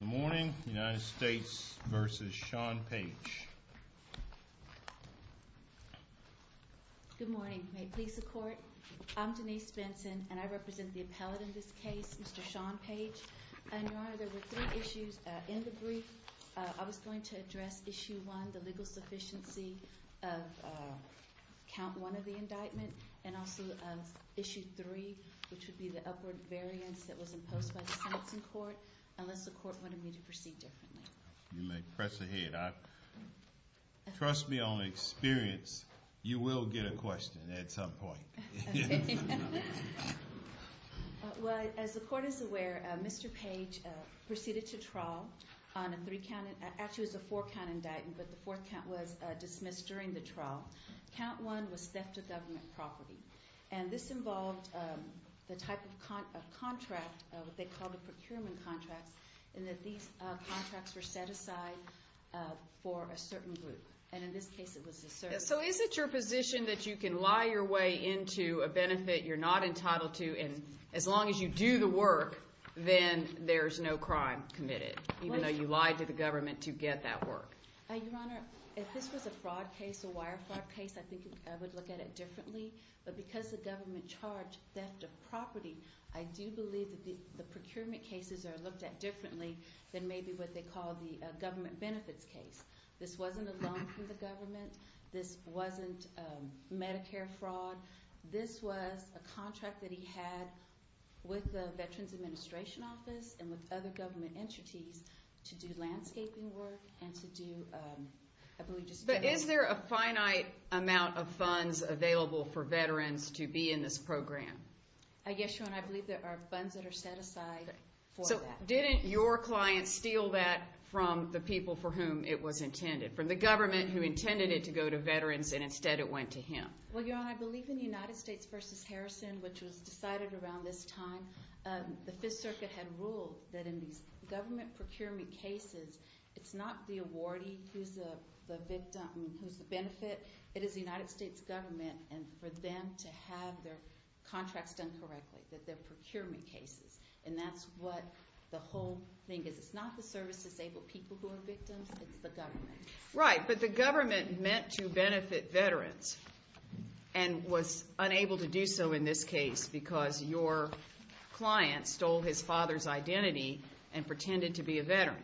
Good morning. May it please the court. I'm Denise Benson and I represent the appellate in this case, Mr. Sean Page. Your Honor, there were three issues in the brief. I was going to address Issue 1, the legal sufficiency of Count 1 of the indictment, and also Issue 3, which would be the upward variance that was imposed by the sentencing court, unless the court wanted me to proceed differently. You may press ahead. Trust me on experience. You will get a question at some point. Okay. Well, as the court is aware, Mr. Page proceeded to trial on a three-count, actually it was a four-count indictment, but the fourth count was dismissed during the trial. Count 1 was theft of government property, and this involved the type of contract, what they called a procurement contract, in that these contracts were set aside for a certain group, and in this case it was a certain group. So is it your position that you can lie your way into a benefit you're not entitled to, and as long as you do the work, then there's no crime committed, even though you lied to the government to get that work? Your Honor, if this was a fraud case, a wire fraud case, I think I would look at it differently, but because the government charged theft of property, I do believe that the procurement cases are looked at differently than maybe what they call the government benefits case. This wasn't a loan from the government. This wasn't Medicare fraud. This was a contract that he had with the Veterans Administration Office and with other government entities to do landscaping work and to do, I believe, just— But is there a finite amount of funds available for veterans to be in this program? Yes, Your Honor, I believe there are funds that are set aside for that. So didn't your client steal that from the people for whom it was intended, from the government who intended it to go to veterans and instead it went to him? Well, Your Honor, I believe in the United States v. Harrison, which was decided around this time, the Fifth Circuit had ruled that in these government procurement cases, it's not the awardee who's the benefit. It is the United States government and for them to have their contracts done correctly, that they're procurement cases, and that's what the whole thing is. It's not the service-disabled people who are victims. It's the government. Right, but the government meant to benefit veterans and was unable to do so in this case because your client stole his father's identity and pretended to be a veteran.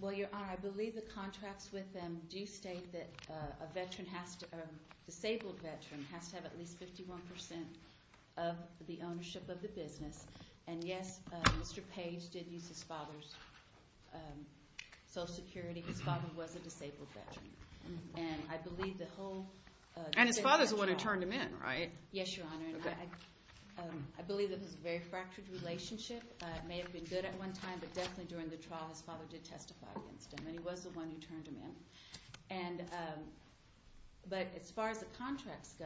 Well, Your Honor, I believe the contracts with them do state that a disabled veteran has to have at least 51% of the ownership of the business. And, yes, Mr. Page did use his father's Social Security. His father was a disabled veteran. And I believe the whole— And his father's the one who turned him in, right? Yes, Your Honor, and I believe that his very fractured relationship may have been good at one time, but definitely during the trial his father did testify against him, and he was the one who turned him in. But as far as the contracts go,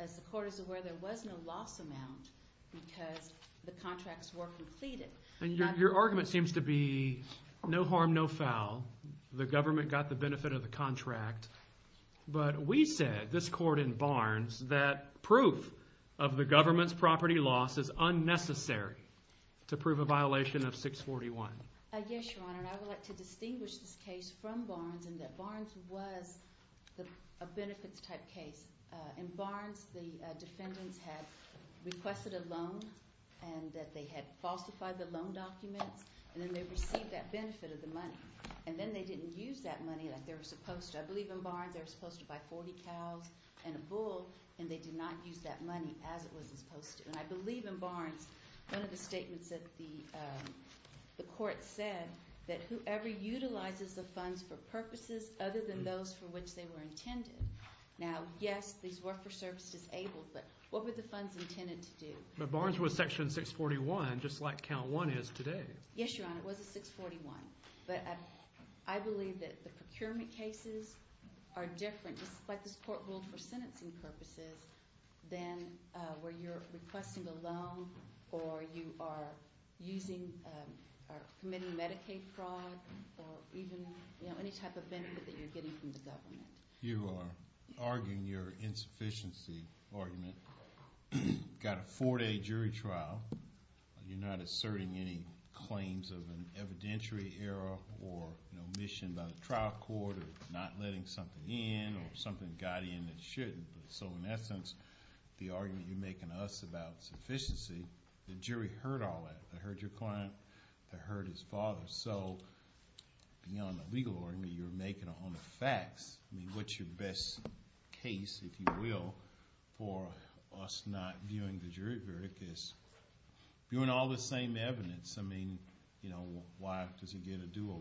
as the Court is aware, there was no loss amount because the contracts were completed. And your argument seems to be no harm, no foul. The government got the benefit of the contract. But we said, this Court in Barnes, that proof of the government's property loss is unnecessary to prove a violation of 641. Yes, Your Honor, and I would like to distinguish this case from Barnes in that Barnes was a benefits-type case. In Barnes, the defendants had requested a loan and that they had falsified the loan documents, and then they received that benefit of the money. And then they didn't use that money like they were supposed to. I believe in Barnes they were supposed to buy 40 cows and a bull, and they did not use that money as it was supposed to. And I believe in Barnes, one of the statements that the Court said, that whoever utilizes the funds for purposes other than those for which they were intended. Now, yes, these were for service disabled, but what were the funds intended to do? But Barnes was Section 641, just like Count 1 is today. Yes, Your Honor, it was a 641. But I believe that the procurement cases are different, just like this Court ruled for sentencing purposes, than where you're requesting a loan or you are committing Medicaid fraud or even any type of benefit that you're getting from the government. You are arguing your insufficiency argument. You've got a four-day jury trial. You're not asserting any claims of an evidentiary error or an omission by the trial court or not letting something in or something got in that shouldn't. So in essence, the argument you're making to us about insufficiency, the jury heard all that. They heard your client, they heard his father. So beyond the legal argument you're making on the facts, I mean, what's your best case, if you will, for us not viewing the jury verdict as viewing all the same evidence? I mean, why does he get a do-over?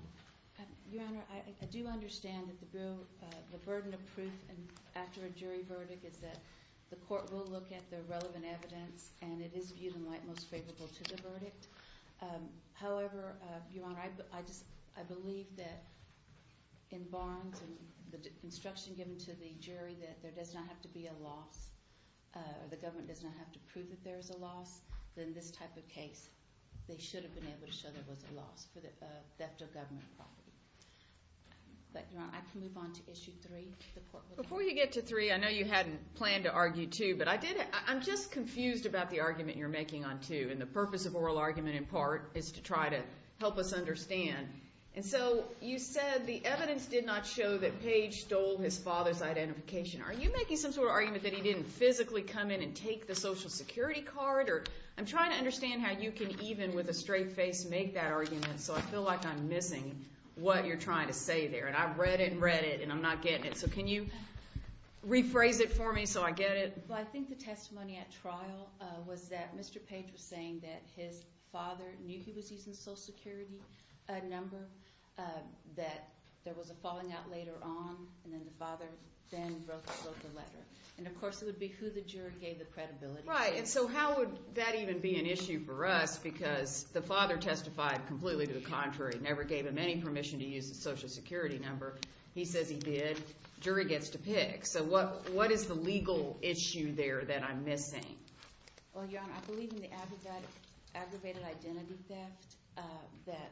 Your Honor, I do understand that the burden of proof after a jury verdict is that the court will look at the relevant evidence, and it is viewed in light most favorable to the verdict. However, Your Honor, I believe that in Barnes and the instruction given to the jury that there does not have to be a loss or the government does not have to prove that there is a loss, then this type of case, they should have been able to show there was a loss for theft of government property. But, Your Honor, I can move on to Issue 3. Before you get to 3, I know you hadn't planned to argue 2, but I'm just confused about the argument you're making on 2 and the purpose of oral argument in part is to try to help us understand. And so you said the evidence did not show that Page stole his father's identification. Are you making some sort of argument that he didn't physically come in and take the Social Security card? I'm trying to understand how you can even with a straight face make that argument, so I feel like I'm missing what you're trying to say there. And I've read it and read it, and I'm not getting it. So can you rephrase it for me so I get it? Well, I think the testimony at trial was that Mr. Page was saying that his father knew he was using a Social Security number, that there was a falling out later on, and then the father then wrote the letter. And, of course, it would be who the jury gave the credibility to. Right, and so how would that even be an issue for us? Because the father testified completely to the contrary, never gave him any permission to use a Social Security number. He says he did. Jury gets to pick. So what is the legal issue there that I'm missing? Well, Your Honor, I believe in the aggravated identity theft, that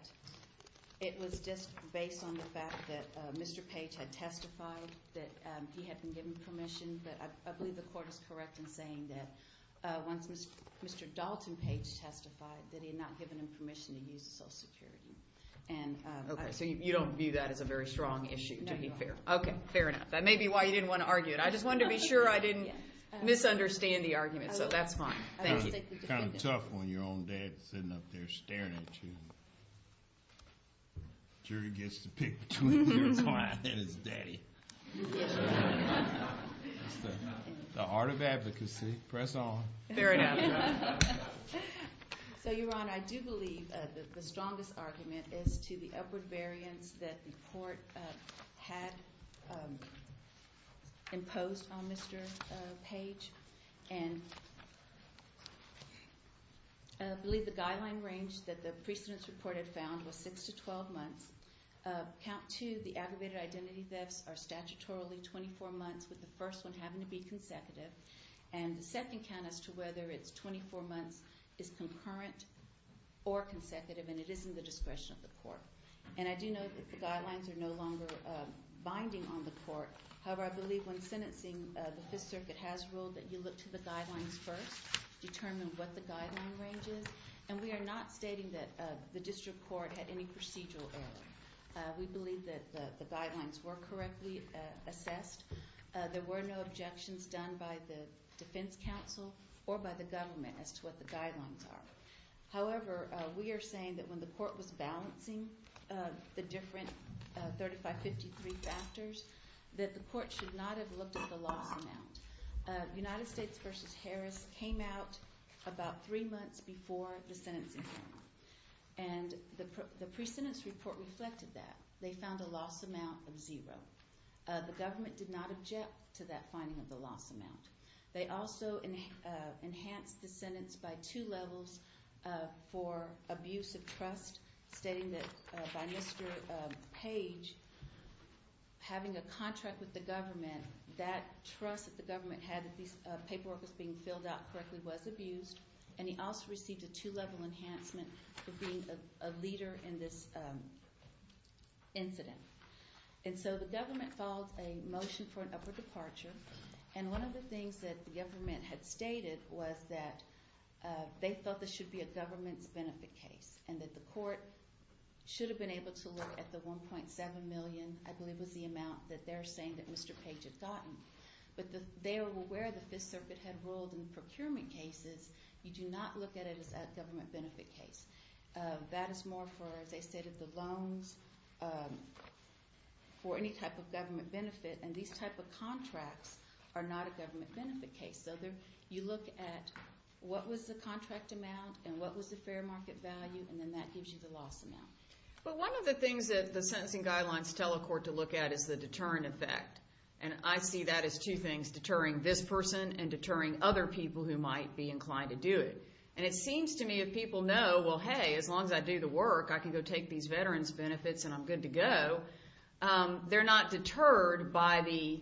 it was just based on the fact that Mr. Page had testified that he had been given permission. I believe the court is correct in saying that once Mr. Dalton Page testified that he had not given him permission to use a Social Security. Okay, so you don't view that as a very strong issue, to be fair. No, we don't. Okay, fair enough. That may be why you didn't want to argue it. I just wanted to be sure I didn't misunderstand the argument, so that's fine. Thank you. Kind of tough when your own dad's sitting up there staring at you. Jury gets to pick between your client and his daddy. It's the art of advocacy. Press on. Fair enough. So, Your Honor, I do believe that the strongest argument is to the upward variance that the court had imposed on Mr. Page, and I believe the guideline range that the precedence report had found was six to 12 months. Count two, the aggravated identity thefts are statutorily 24 months, with the first one having to be consecutive, and the second count as to whether it's 24 months is concurrent or consecutive, and it is in the discretion of the court. And I do know that the guidelines are no longer binding on the court. However, I believe when sentencing, the Fifth Circuit has ruled that you look to the guidelines first, determine what the guideline range is, and we are not stating that the district court had any procedural error. We believe that the guidelines were correctly assessed. There were no objections done by the defense counsel or by the government as to what the guidelines are. However, we are saying that when the court was balancing the different 3553 factors, that the court should not have looked at the loss amount. United States v. Harris came out about three months before the sentencing. And the precedence report reflected that. They found a loss amount of zero. The government did not object to that finding of the loss amount. They also enhanced the sentence by two levels for abuse of trust, stating that by Mr. Page having a contract with the government, that trust that the government had that this paperwork was being filled out correctly was abused, and he also received a two-level enhancement for being a leader in this incident. And so the government filed a motion for an upper departure, and one of the things that the government had stated was that they felt this should be a government's benefit case and that the court should have been able to look at the $1.7 million, I believe was the amount that they're saying that Mr. Page had gotten. But they were aware the Fifth Circuit had ruled in procurement cases you do not look at it as a government benefit case. That is more for, as I stated, the loans for any type of government benefit, and these type of contracts are not a government benefit case. So you look at what was the contract amount and what was the fair market value, and then that gives you the loss amount. But one of the things that the sentencing guidelines tell a court to look at is the deterrent effect, and I see that as two things, deterring this person and deterring other people who might be inclined to do it. And it seems to me if people know, well, hey, as long as I do the work, I can go take these veterans' benefits and I'm good to go, they're not deterred by the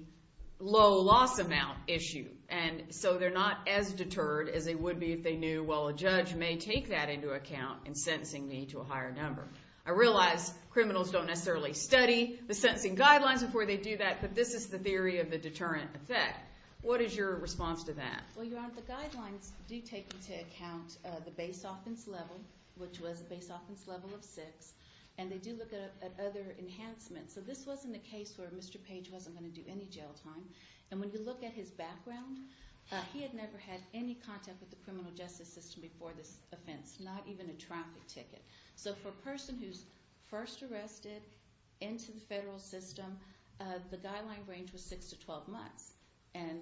low loss amount issue. And so they're not as deterred as they would be if they knew, well, a judge may take that into account in sentencing me to a higher number. I realize criminals don't necessarily study the sentencing guidelines before they do that, but this is the theory of the deterrent effect. What is your response to that? Well, Your Honor, the guidelines do take into account the base offense level, which was a base offense level of 6, and they do look at other enhancements. So this wasn't a case where Mr. Page wasn't going to do any jail time. And when you look at his background, he had never had any contact with the criminal justice system before this offense, not even a traffic ticket. So for a person who's first arrested into the federal system, the guideline range was 6 to 12 months. And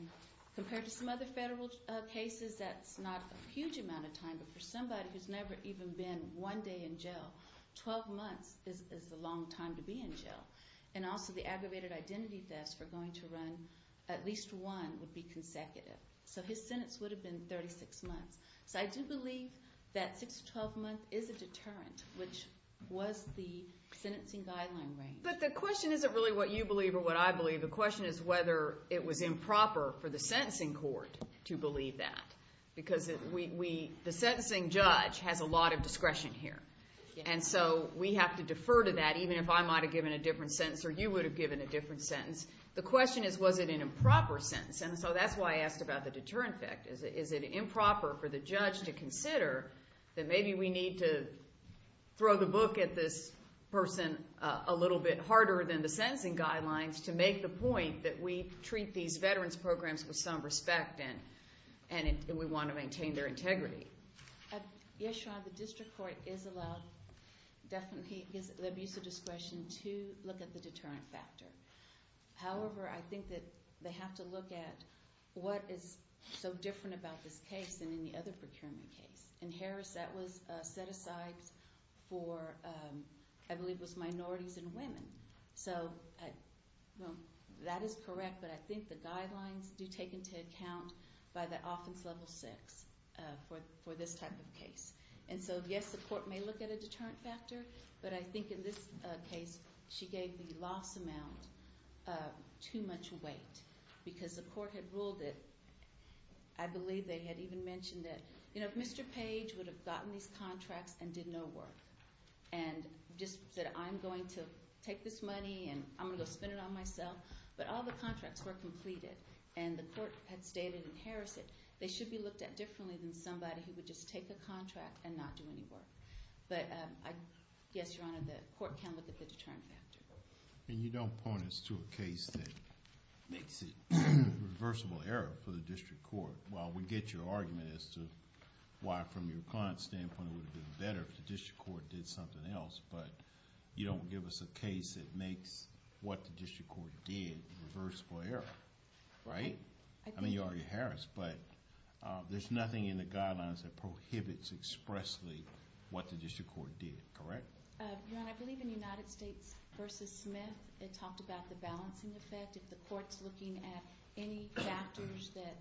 compared to some other federal cases, that's not a huge amount of time. But for somebody who's never even been one day in jail, 12 months is a long time to be in jail. And also the aggravated identity thefts were going to run at least one, would be consecutive. So his sentence would have been 36 months. So I do believe that 6 to 12 months is a deterrent, which was the sentencing guideline range. But the question isn't really what you believe or what I believe. The question is whether it was improper for the sentencing court to believe that because the sentencing judge has a lot of discretion here. And so we have to defer to that, even if I might have given a different sentence or you would have given a different sentence. The question is, was it an improper sentence? And so that's why I asked about the deterrent effect. Is it improper for the judge to consider that maybe we need to throw the book at this person a little bit harder than the sentencing guidelines to make the point that we treat these veterans programs with some respect and we want to maintain their integrity? Yes, Your Honor. The district court is allowed definitely the abuse of discretion to look at the deterrent factor. However, I think that they have to look at what is so different about this case than any other procurement case. In Harris that was set aside for, I believe it was minorities and women. So that is correct, but I think the guidelines do take into account by the offense level six for this type of case. And so yes, the court may look at a deterrent factor, but I think in this case she gave the loss amount too much weight because the court had ruled it. I believe they had even mentioned that, you know, Mr. Page would have gotten these contracts and did no work and just said, I'm going to take this money and I'm going to go spend it on myself. But all the contracts were completed and the court had stated in Harris that they should be looked at differently than somebody who would just take a contract and not do any work. But yes, Your Honor, the court can look at the deterrent factor. And you don't point us to a case that makes it reversible error for the district court. Well, we get your argument as to why from your client's standpoint it would have been better if the district court did something else, but you don't give us a case that makes what the district court did reversible error. Right? I mean, you argue Harris, but there's nothing in the guidelines that prohibits expressly what the district court did. Correct? Your Honor, I believe in United States v. Smith, it talked about the balancing effect. If the court's looking at any factors that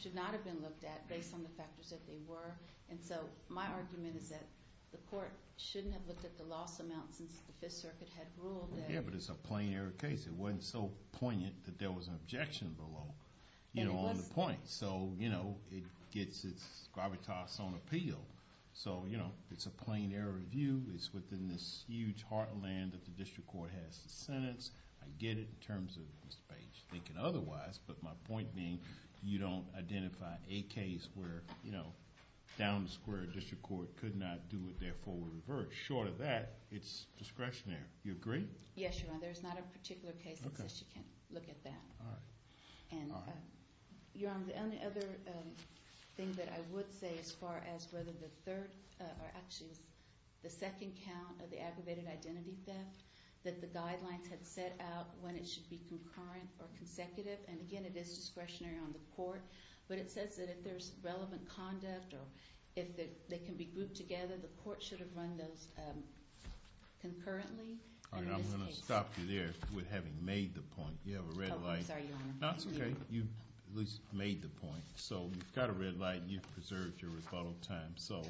should not have been looked at based on the factors that they were. And so my argument is that the court shouldn't have looked at the loss amount since the Fifth Circuit had ruled that. Yeah, but it's a plain error case. It wasn't so poignant that there was an objection below, you know, on the point. So, you know, it gets its gravitas on appeal. So, you know, it's a plain error review. It's within this huge heartland that the district court has to sentence. I get it in terms of Mr. Page thinking otherwise, but my point being you don't identify a case where, you know, down the square district court could not do it, therefore we reverse. Short of that, it's discretionary. Do you agree? Yes, Your Honor. There's not a particular case that says you can't look at that. All right. Your Honor, the only other thing that I would say as far as whether the third or actually the second count of the aggravated identity theft that the guidelines had set out when it should be concurrent or consecutive and, again, it is discretionary on the court, but it says that if there's relevant conduct or if they can be grouped together, the court should have run those concurrently. All right. I'm going to stop you there with having made the point. You have a red light. Oh, I'm sorry, Your Honor. No, it's okay. You at least made the point. So you've got a red light and you've preserved your rebuttal time. So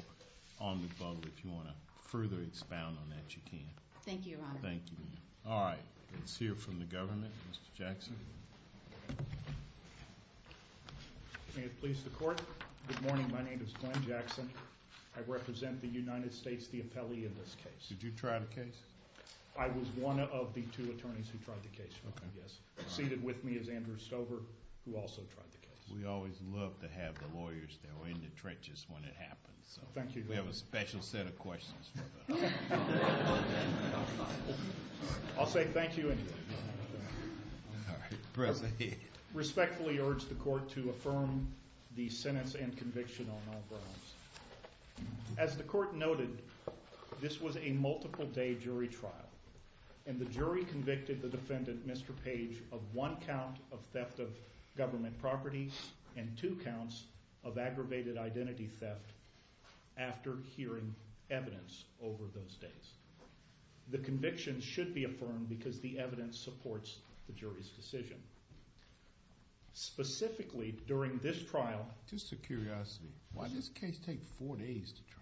on rebuttal, if you want to further expound on that, you can. Thank you, Your Honor. Thank you. All right. Let's hear from the government, Mr. Jackson. May it please the court. Good morning. My name is Glenn Jackson. I represent the United States, the appellee in this case. Did you try the case? I was one of the two attorneys who tried the case, yes. Seated with me is Andrew Stover, who also tried the case. We always love to have the lawyers that are in the trenches when it happens. Thank you. We have a special set of questions for them. I'll say thank you anyway. I respectfully urge the court to affirm the sentence and conviction on all grounds. As the court noted, this was a multiple-day jury trial, and the jury convicted the defendant, Mr. Page, of one count of theft of government property and two counts of aggravated identity theft after hearing evidence over those days. The conviction should be affirmed because the evidence supports the jury's decision. Specifically, during this trial— Just a curiosity. Why does this case take four days to try?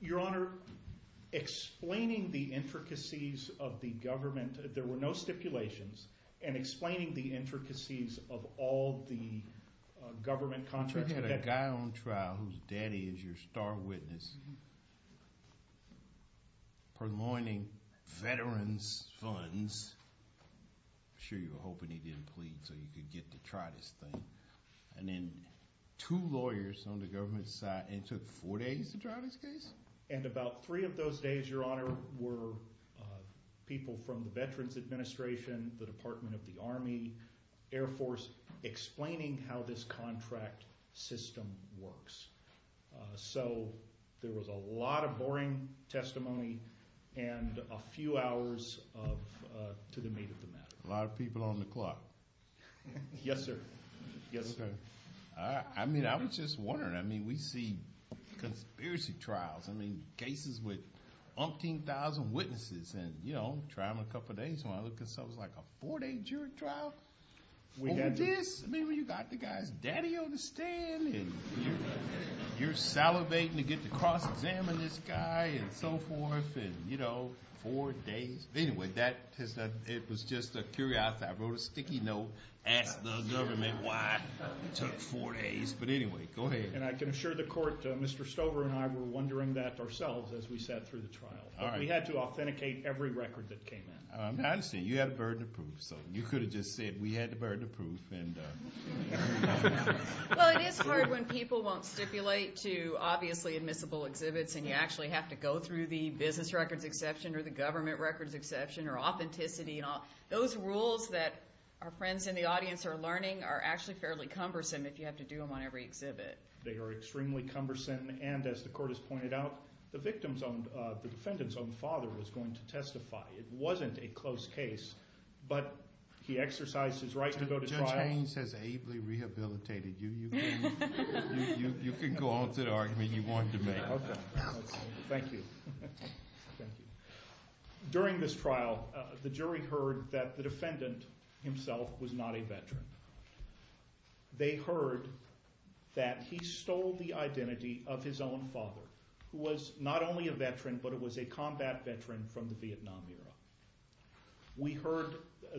Your Honor, explaining the intricacies of the government— there were no stipulations— and explaining the intricacies of all the government contracts— You had a guy on trial whose daddy is your star witness, purloining veterans' funds. I'm sure you were hoping he didn't plead so you could get to try this thing. And then two lawyers on the government side, and it took four days to try this case? And about three of those days, Your Honor, were people from the Veterans Administration, the Department of the Army, Air Force, explaining how this contract system works. So there was a lot of boring testimony and a few hours to the meat of the matter. A lot of people on the clock. Yes, sir. I mean, I was just wondering. I mean, we see conspiracy trials. I mean, cases with umpteen thousand witnesses, and, you know, try them a couple of days. And I look at something like a four-day jury trial? Over this? I mean, you got the guy's daddy on the stand, and you're salivating to get to cross-examine this guy and so forth, and, you know, four days? Anyway, it was just a curiosity. I wrote a sticky note, asked the government why it took four days. But anyway, go ahead. And I can assure the Court, Mr. Stover and I were wondering that ourselves as we sat through the trial. But we had to authenticate every record that came in. I understand. You had a burden of proof, so you could have just said we had a burden of proof. Well, it is hard when people won't stipulate to obviously admissible exhibits, and you actually have to go through the business records exception or the government records exception or authenticity. Those rules that our friends in the audience are learning are actually fairly cumbersome if you have to do them on every exhibit. They are extremely cumbersome. And as the Court has pointed out, the defendant's own father was going to testify. It wasn't a close case, but he exercised his right to go to trial. Judge Haynes has ably rehabilitated you. You can go on to the argument you wanted to make. Okay. Thank you. During this trial, the jury heard that the defendant himself was not a veteran. They heard that he stole the identity of his own father, who was not only a veteran, but it was a combat veteran from the Vietnam era.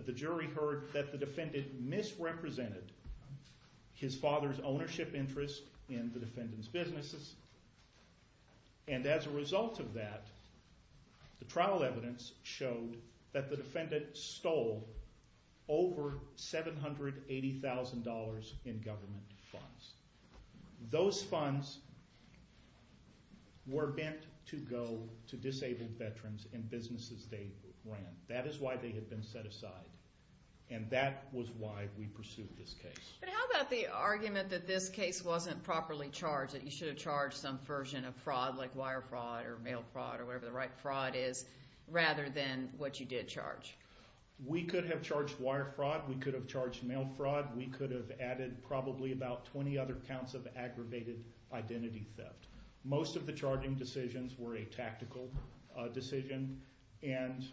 The jury heard that the defendant misrepresented his father's ownership interest in the defendant's businesses, and as a result of that, the trial evidence showed that the defendant stole over $780,000 in government funds. Those funds were meant to go to disabled veterans in businesses they ran. That is why they had been set aside, and that was why we pursued this case. But how about the argument that this case wasn't properly charged, that you should have charged some version of fraud like wire fraud or mail fraud or whatever the right fraud is, rather than what you did charge? We could have charged wire fraud. We could have charged mail fraud. We could have added probably about 20 other counts of aggravated identity theft. Most of the charging decisions were a tactical decision, and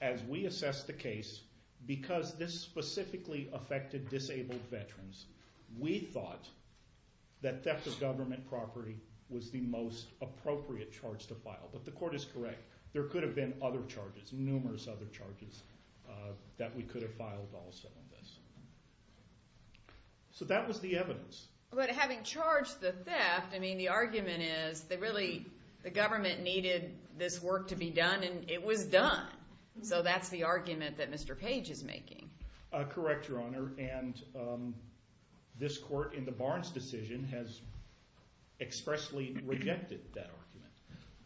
as we assessed the case, because this specifically affected disabled veterans, we thought that theft of government property was the most appropriate charge to file. But the court is correct. There could have been other charges, numerous other charges, that we could have filed also on this. So that was the evidence. But having charged the theft, I mean the argument is that really the government needed this work to be done, and it was done, so that's the argument that Mr. Page is making. Correct, Your Honor, and this court in the Barnes decision has expressly rejected that argument.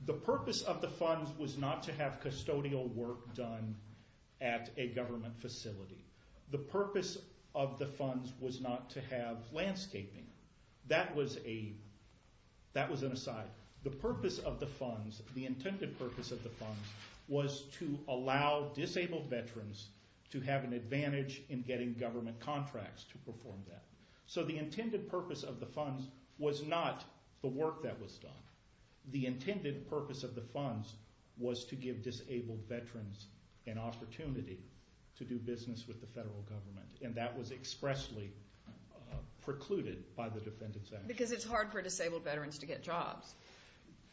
The purpose of the funds was not to have custodial work done at a government facility. The purpose of the funds was not to have landscaping. That was an aside. The purpose of the funds, the intended purpose of the funds, was to allow disabled veterans to have an advantage in getting government contracts to perform that. So the intended purpose of the funds was not the work that was done. The intended purpose of the funds was to give disabled veterans an opportunity to do business with the federal government, and that was expressly precluded by the Defendant's Act. Because it's hard for disabled veterans to get jobs.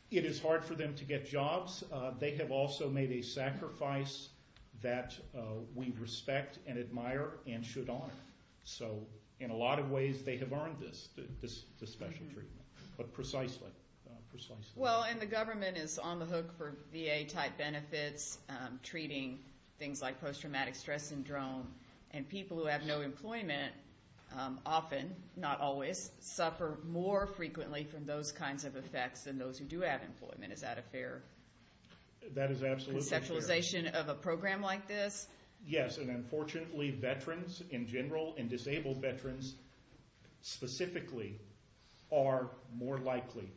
It is hard for them to get jobs. They have also made a sacrifice that we respect and admire and should honor. So in a lot of ways they have earned this special treatment, but precisely. Well, and the government is on the hook for VA-type benefits, treating things like post-traumatic stress syndrome, and people who have no employment often, not always, suffer more frequently from those kinds of effects than those who do have employment. Is that a fair conceptualization of a program like this? Yes, and unfortunately veterans in general, and disabled veterans specifically, are more likely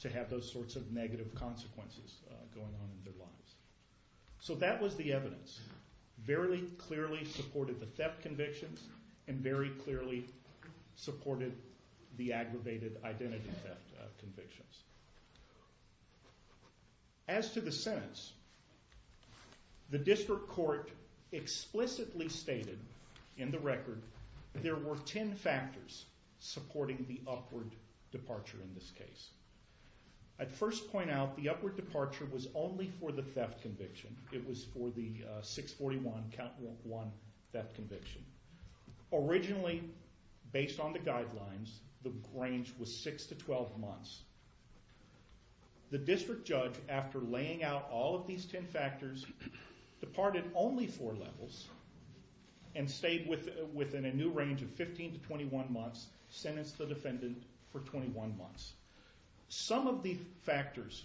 to have those sorts of negative consequences going on in their lives. So that was the evidence. Very clearly supported the theft convictions and very clearly supported the aggravated identity theft convictions. As to the sentence, the district court explicitly stated in the record there were ten factors supporting the upward departure in this case. I'd first point out the upward departure was only for the theft conviction. It was for the 641 count 1 theft conviction. Originally, based on the guidelines, the range was 6 to 12 months. The district judge, after laying out all of these ten factors, departed only four levels and stayed within a new range of 15 to 21 months, sentenced the defendant for 21 months. Some of the factors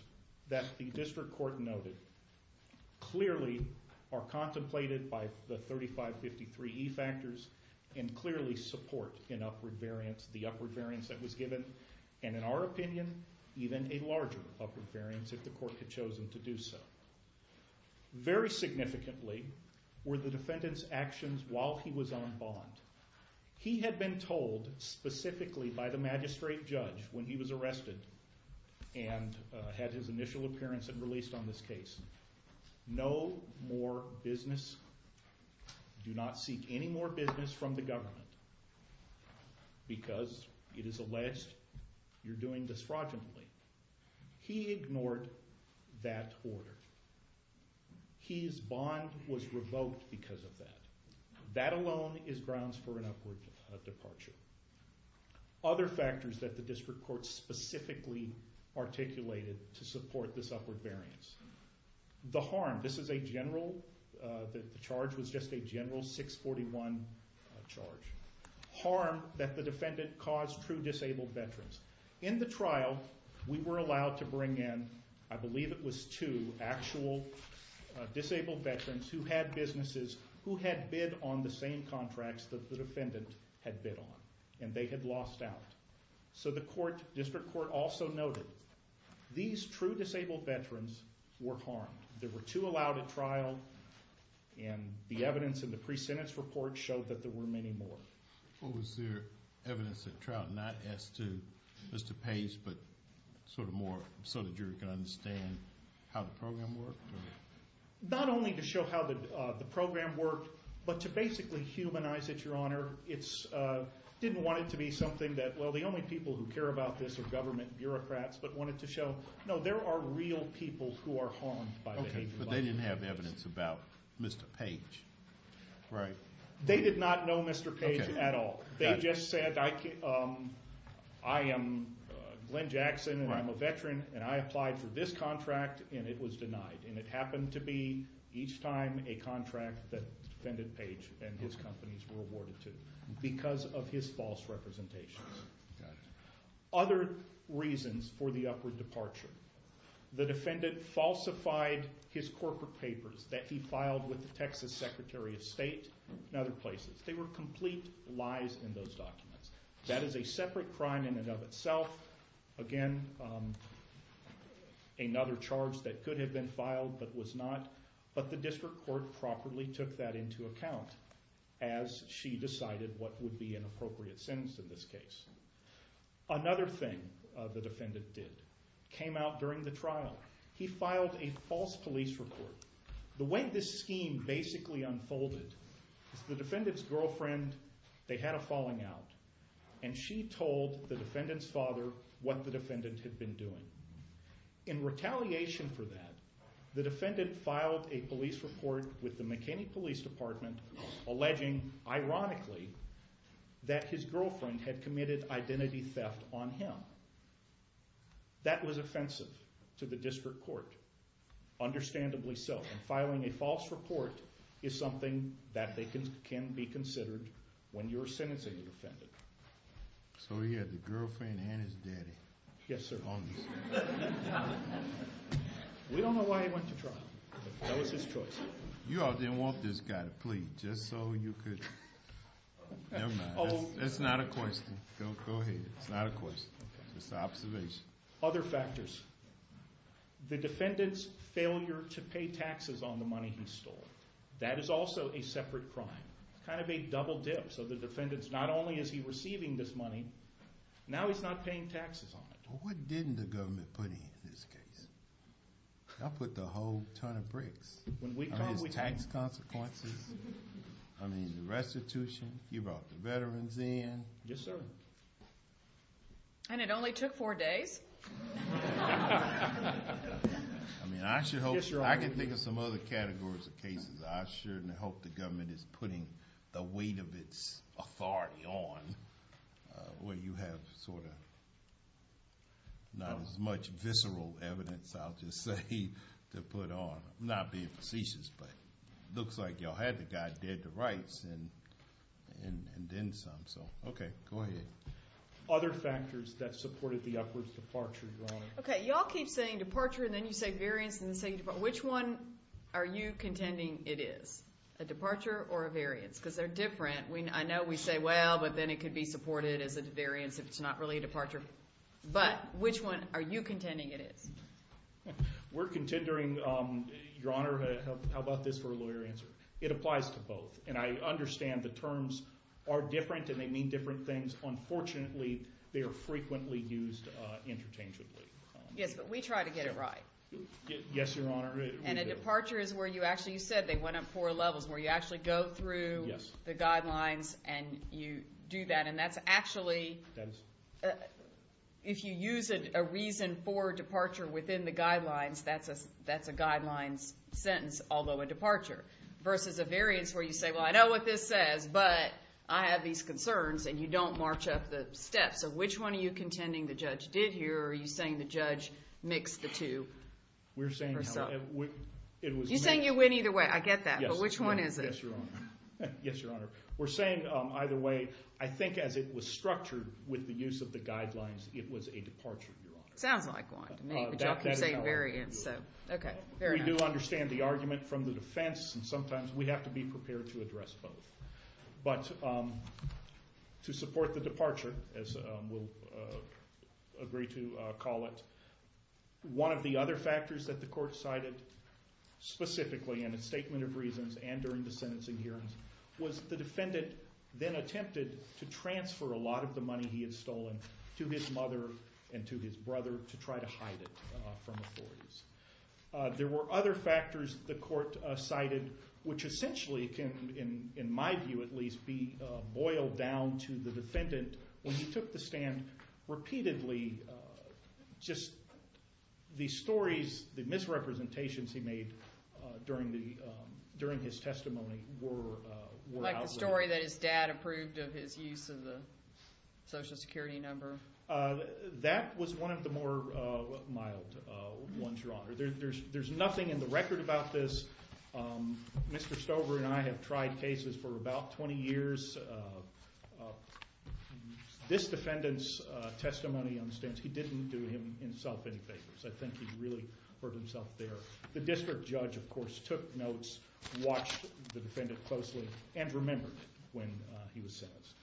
that the district court noted clearly are contemplated by the 3553E factors and clearly support the upward variance that was given and, in our opinion, even a larger upward variance if the court had chosen to do so. Very significantly were the defendant's actions while he was on bond. He had been told specifically by the magistrate judge when he was arrested and had his initial appearance and released on this case, no more business, do not seek any more business from the government because it is alleged you're doing this fraudulently. He ignored that order. His bond was revoked because of that. That alone is grounds for an upward departure. Other factors that the district court specifically articulated to support this upward variance. The harm, this is a general, the charge was just a general 641 charge. Harm that the defendant caused true disabled veterans. In the trial, we were allowed to bring in, I believe it was two actual disabled veterans who had businesses, who had bid on the same contracts that the defendant had bid on and they had lost out. So the district court also noted these true disabled veterans were harmed. There were two allowed at trial and the evidence in the pre-sentence report showed that there were many more. Was there evidence at trial not as to Pace but sort of more so the jury could understand how the program worked? Not only to show how the program worked, but to basically humanize it, Your Honor. It didn't want it to be something that, well, the only people who care about this are government bureaucrats, but wanted to show, no, there are real people who are harmed. But they didn't have evidence about Mr. Pace, right? They did not know Mr. Pace at all. They just said, I am Glenn Jackson and I'm a veteran and I applied for this contract and it was denied. And it happened to be each time a contract that defendant Pace and his companies were awarded to because of his false representations. Other reasons for the upward departure. The defendant falsified his corporate papers that he filed with the Texas Secretary of State and other places. They were complete lies in those documents. That is a separate crime in and of itself. Again, another charge that could have been filed but was not. But the district court properly took that into account as she decided what would be an appropriate sentence in this case. Another thing the defendant did. Came out during the trial. He filed a false police report. The way this scheme basically unfolded, the defendant's girlfriend, they had a falling out. And she told the defendant's father what the defendant had been doing. In retaliation for that, the defendant filed a police report with the McKinney Police Department alleging, ironically, that his girlfriend had committed identity theft on him. That was offensive to the district court. Understandably so. And filing a false report is something that can be considered when you're sentencing a defendant. So he had the girlfriend and his daddy. Yes, sir. We don't know why he went to trial. That was his choice. You all didn't want this guy to plead just so you could. Never mind. It's not a question. Go ahead. It's not a question. It's an observation. Other factors. The defendant's failure to pay taxes on the money he stole. That is also a separate crime. Kind of a double dip. So the defendant's not only is he receiving this money, now he's not paying taxes on it. Well, what didn't the government put in his case? They put a whole ton of bricks. His tax consequences. I mean, the restitution. You brought the veterans in. Yes, sir. And it only took four days? I mean, I can think of some other categories of cases I shouldn't hope the government is putting the weight of its authority on, where you have sort of not as much visceral evidence, I'll just say, to put on. I'm not being facetious, but it looks like you all had the guy dead to rights and then some. Okay. Go ahead. Other factors that supported the upwards departure, Your Honor. Okay. You all keep saying departure, and then you say variance, and then you say departure. Which one are you contending it is? A departure or a variance? Because they're different. I know we say, well, but then it could be supported as a variance if it's not really a departure. But which one are you contending it is? We're contendering, Your Honor, how about this for a lawyer answer? It applies to both. And I understand the terms are different and they mean different things. Unfortunately, they are frequently used interchangeably. Yes, but we try to get it right. Yes, Your Honor. And a departure is where you actually said they went up four levels, where you actually go through the guidelines and you do that. And that's actually, if you use a reason for departure within the guidelines, that's a guidelines sentence, although a departure, versus a variance where you say, well, I know what this says, but I have these concerns, and you don't march up the steps. So which one are you contending the judge did here, or are you saying the judge mixed the two? We're saying it was made. You're saying it went either way. I get that. But which one is it? Yes, Your Honor. Yes, Your Honor. We're saying either way. I think as it was structured with the use of the guidelines, it was a departure, Your Honor. Sounds like one to me, but you all keep saying variance. So, okay. Fair enough. We do understand the argument from the defense, and sometimes we have to be prepared to address both. But to support the departure, as we'll agree to call it, one of the other factors that the court cited specifically in its statement of reasons and during the sentencing hearings was the defendant then attempted to transfer a lot of the money he had stolen to his mother and to his brother to try to hide it from authorities. There were other factors the court cited, which essentially can, in my view at least, be boiled down to the defendant. When he took the stand repeatedly, just the stories, the misrepresentations he made during his testimony were out there. Like the story that his dad approved of his use of the Social Security number? That was one of the more mild ones, Your Honor. There's nothing in the record about this. Mr. Stover and I have tried cases for about 20 years. This defendant's testimony on the stand, he didn't do himself any favors. I think he really hurt himself there. The district judge, of course, took notes, watched the defendant closely, and remembered when he was sentenced.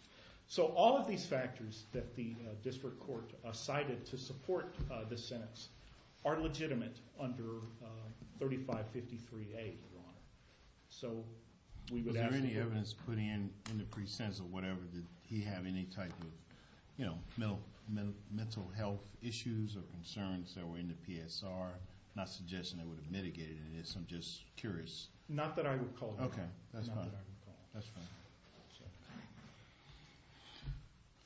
So all of these factors that the district court cited to support the sentence are legitimate under 3553A, Your Honor. Was there any evidence put in in the pre-sentence or whatever? Did he have any type of mental health issues or concerns that were in the PSR? I'm not suggesting they would have mitigated this. I'm just curious. Not that I recall, Your Honor. Okay, that's fine.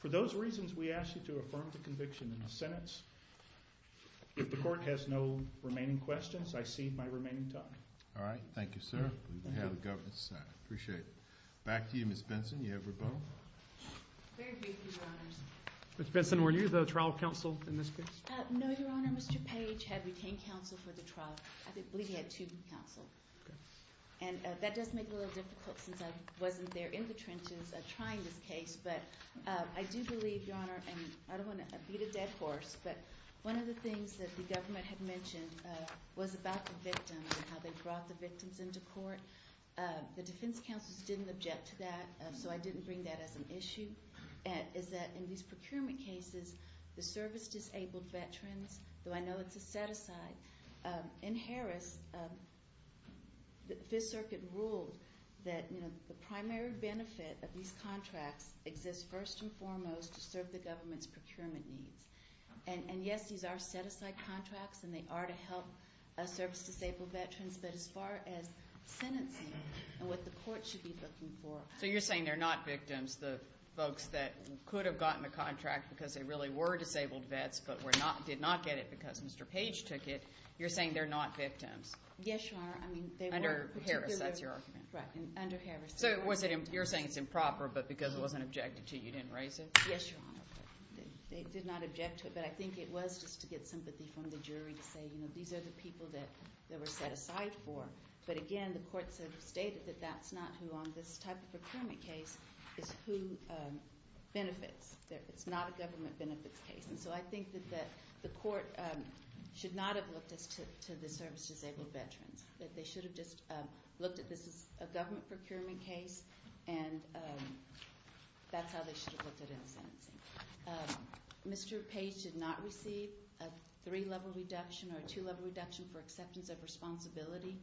For those reasons, we ask you to affirm the conviction in the sentence. If the court has no remaining questions, I cede my remaining time. All right, thank you, sir. We have a governance. I appreciate it. Back to you, Ms. Benson. Do you have a rebuttal? Very briefly, Your Honors. Ms. Benson, were you the trial counsel in this case? No, Your Honor. Mr. Page had retained counsel for the trial. I believe he had two counsel. And that does make it a little difficult since I wasn't there in the trenches trying this case. But I do believe, Your Honor, and I don't want to beat a dead horse, but one of the things that the government had mentioned was about the victim and how they brought the victims into court. The defense counsels didn't object to that, so I didn't bring that as an issue, is that in these procurement cases, the service-disabled veterans, though I know it's a set-aside, in Harris, the Fifth Circuit ruled that the primary benefit of these contracts exists first and foremost to serve the government's procurement needs. And, yes, these are set-aside contracts and they are to help service-disabled veterans, but as far as sentencing and what the court should be looking for. So you're saying they're not victims, the folks that could have gotten the contract because they really were disabled vets but did not get it because Mr. Page took it, you're saying they're not victims? Yes, Your Honor. Under Harris, that's your argument? Right, under Harris. So you're saying it's improper but because it wasn't objected to you didn't raise it? Yes, Your Honor. They did not object to it, but I think it was just to get sympathy from the jury to say, you know, these are the people that they were set-aside for. But, again, the courts have stated that that's not who on this type of procurement case is who benefits. It's not a government benefits case. And so I think that the court should not have looked to the service-disabled veterans, that they should have just looked at this as a government procurement case and that's how they should have looked at it in sentencing. Mr. Page did not receive a three-level reduction or a two-level reduction for acceptance of responsibility.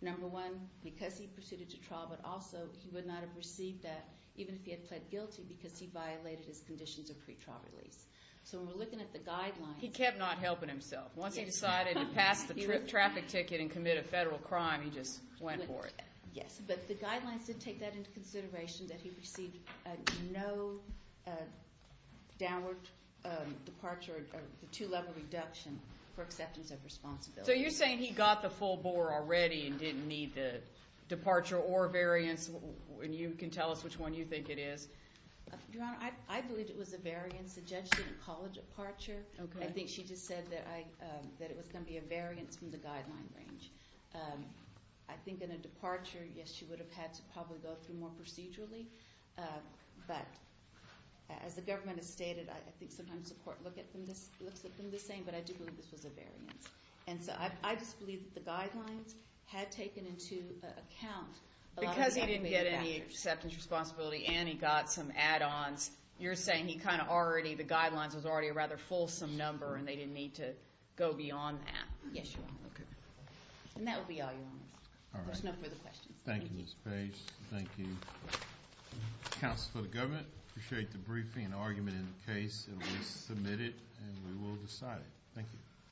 Number one, because he proceeded to trial, but also he would not have received that even if he had pled guilty because he violated his conditions of pretrial release. So we're looking at the guidelines. He kept not helping himself. Once he decided to pass the traffic ticket and commit a federal crime, he just went for it. Yes, but the guidelines did take that into consideration, that he received no downward departure or the two-level reduction for acceptance of responsibility. So you're saying he got the full bore already and didn't need the departure or variance, and you can tell us which one you think it is. Your Honor, I believe it was a variance. The judge didn't call a departure. I think she just said that it was going to be a variance from the guideline range. I think in a departure, yes, she would have had to probably go through more procedurally, but as the government has stated, I think sometimes the court looks at them the same, but I do believe this was a variance. And so I just believe that the guidelines had taken into account a lot of the upward departure. He accepted his responsibility and he got some add-ons. You're saying he kind of already, the guidelines was already a rather fulsome number and they didn't need to go beyond that. Yes, Your Honor. Okay. And that will be all, Your Honor. All right. There's no further questions. Thank you, Ms. Page. Thank you, counsel of the government. I appreciate the briefing and argument in the case. It was submitted and we will decide it. Thank you.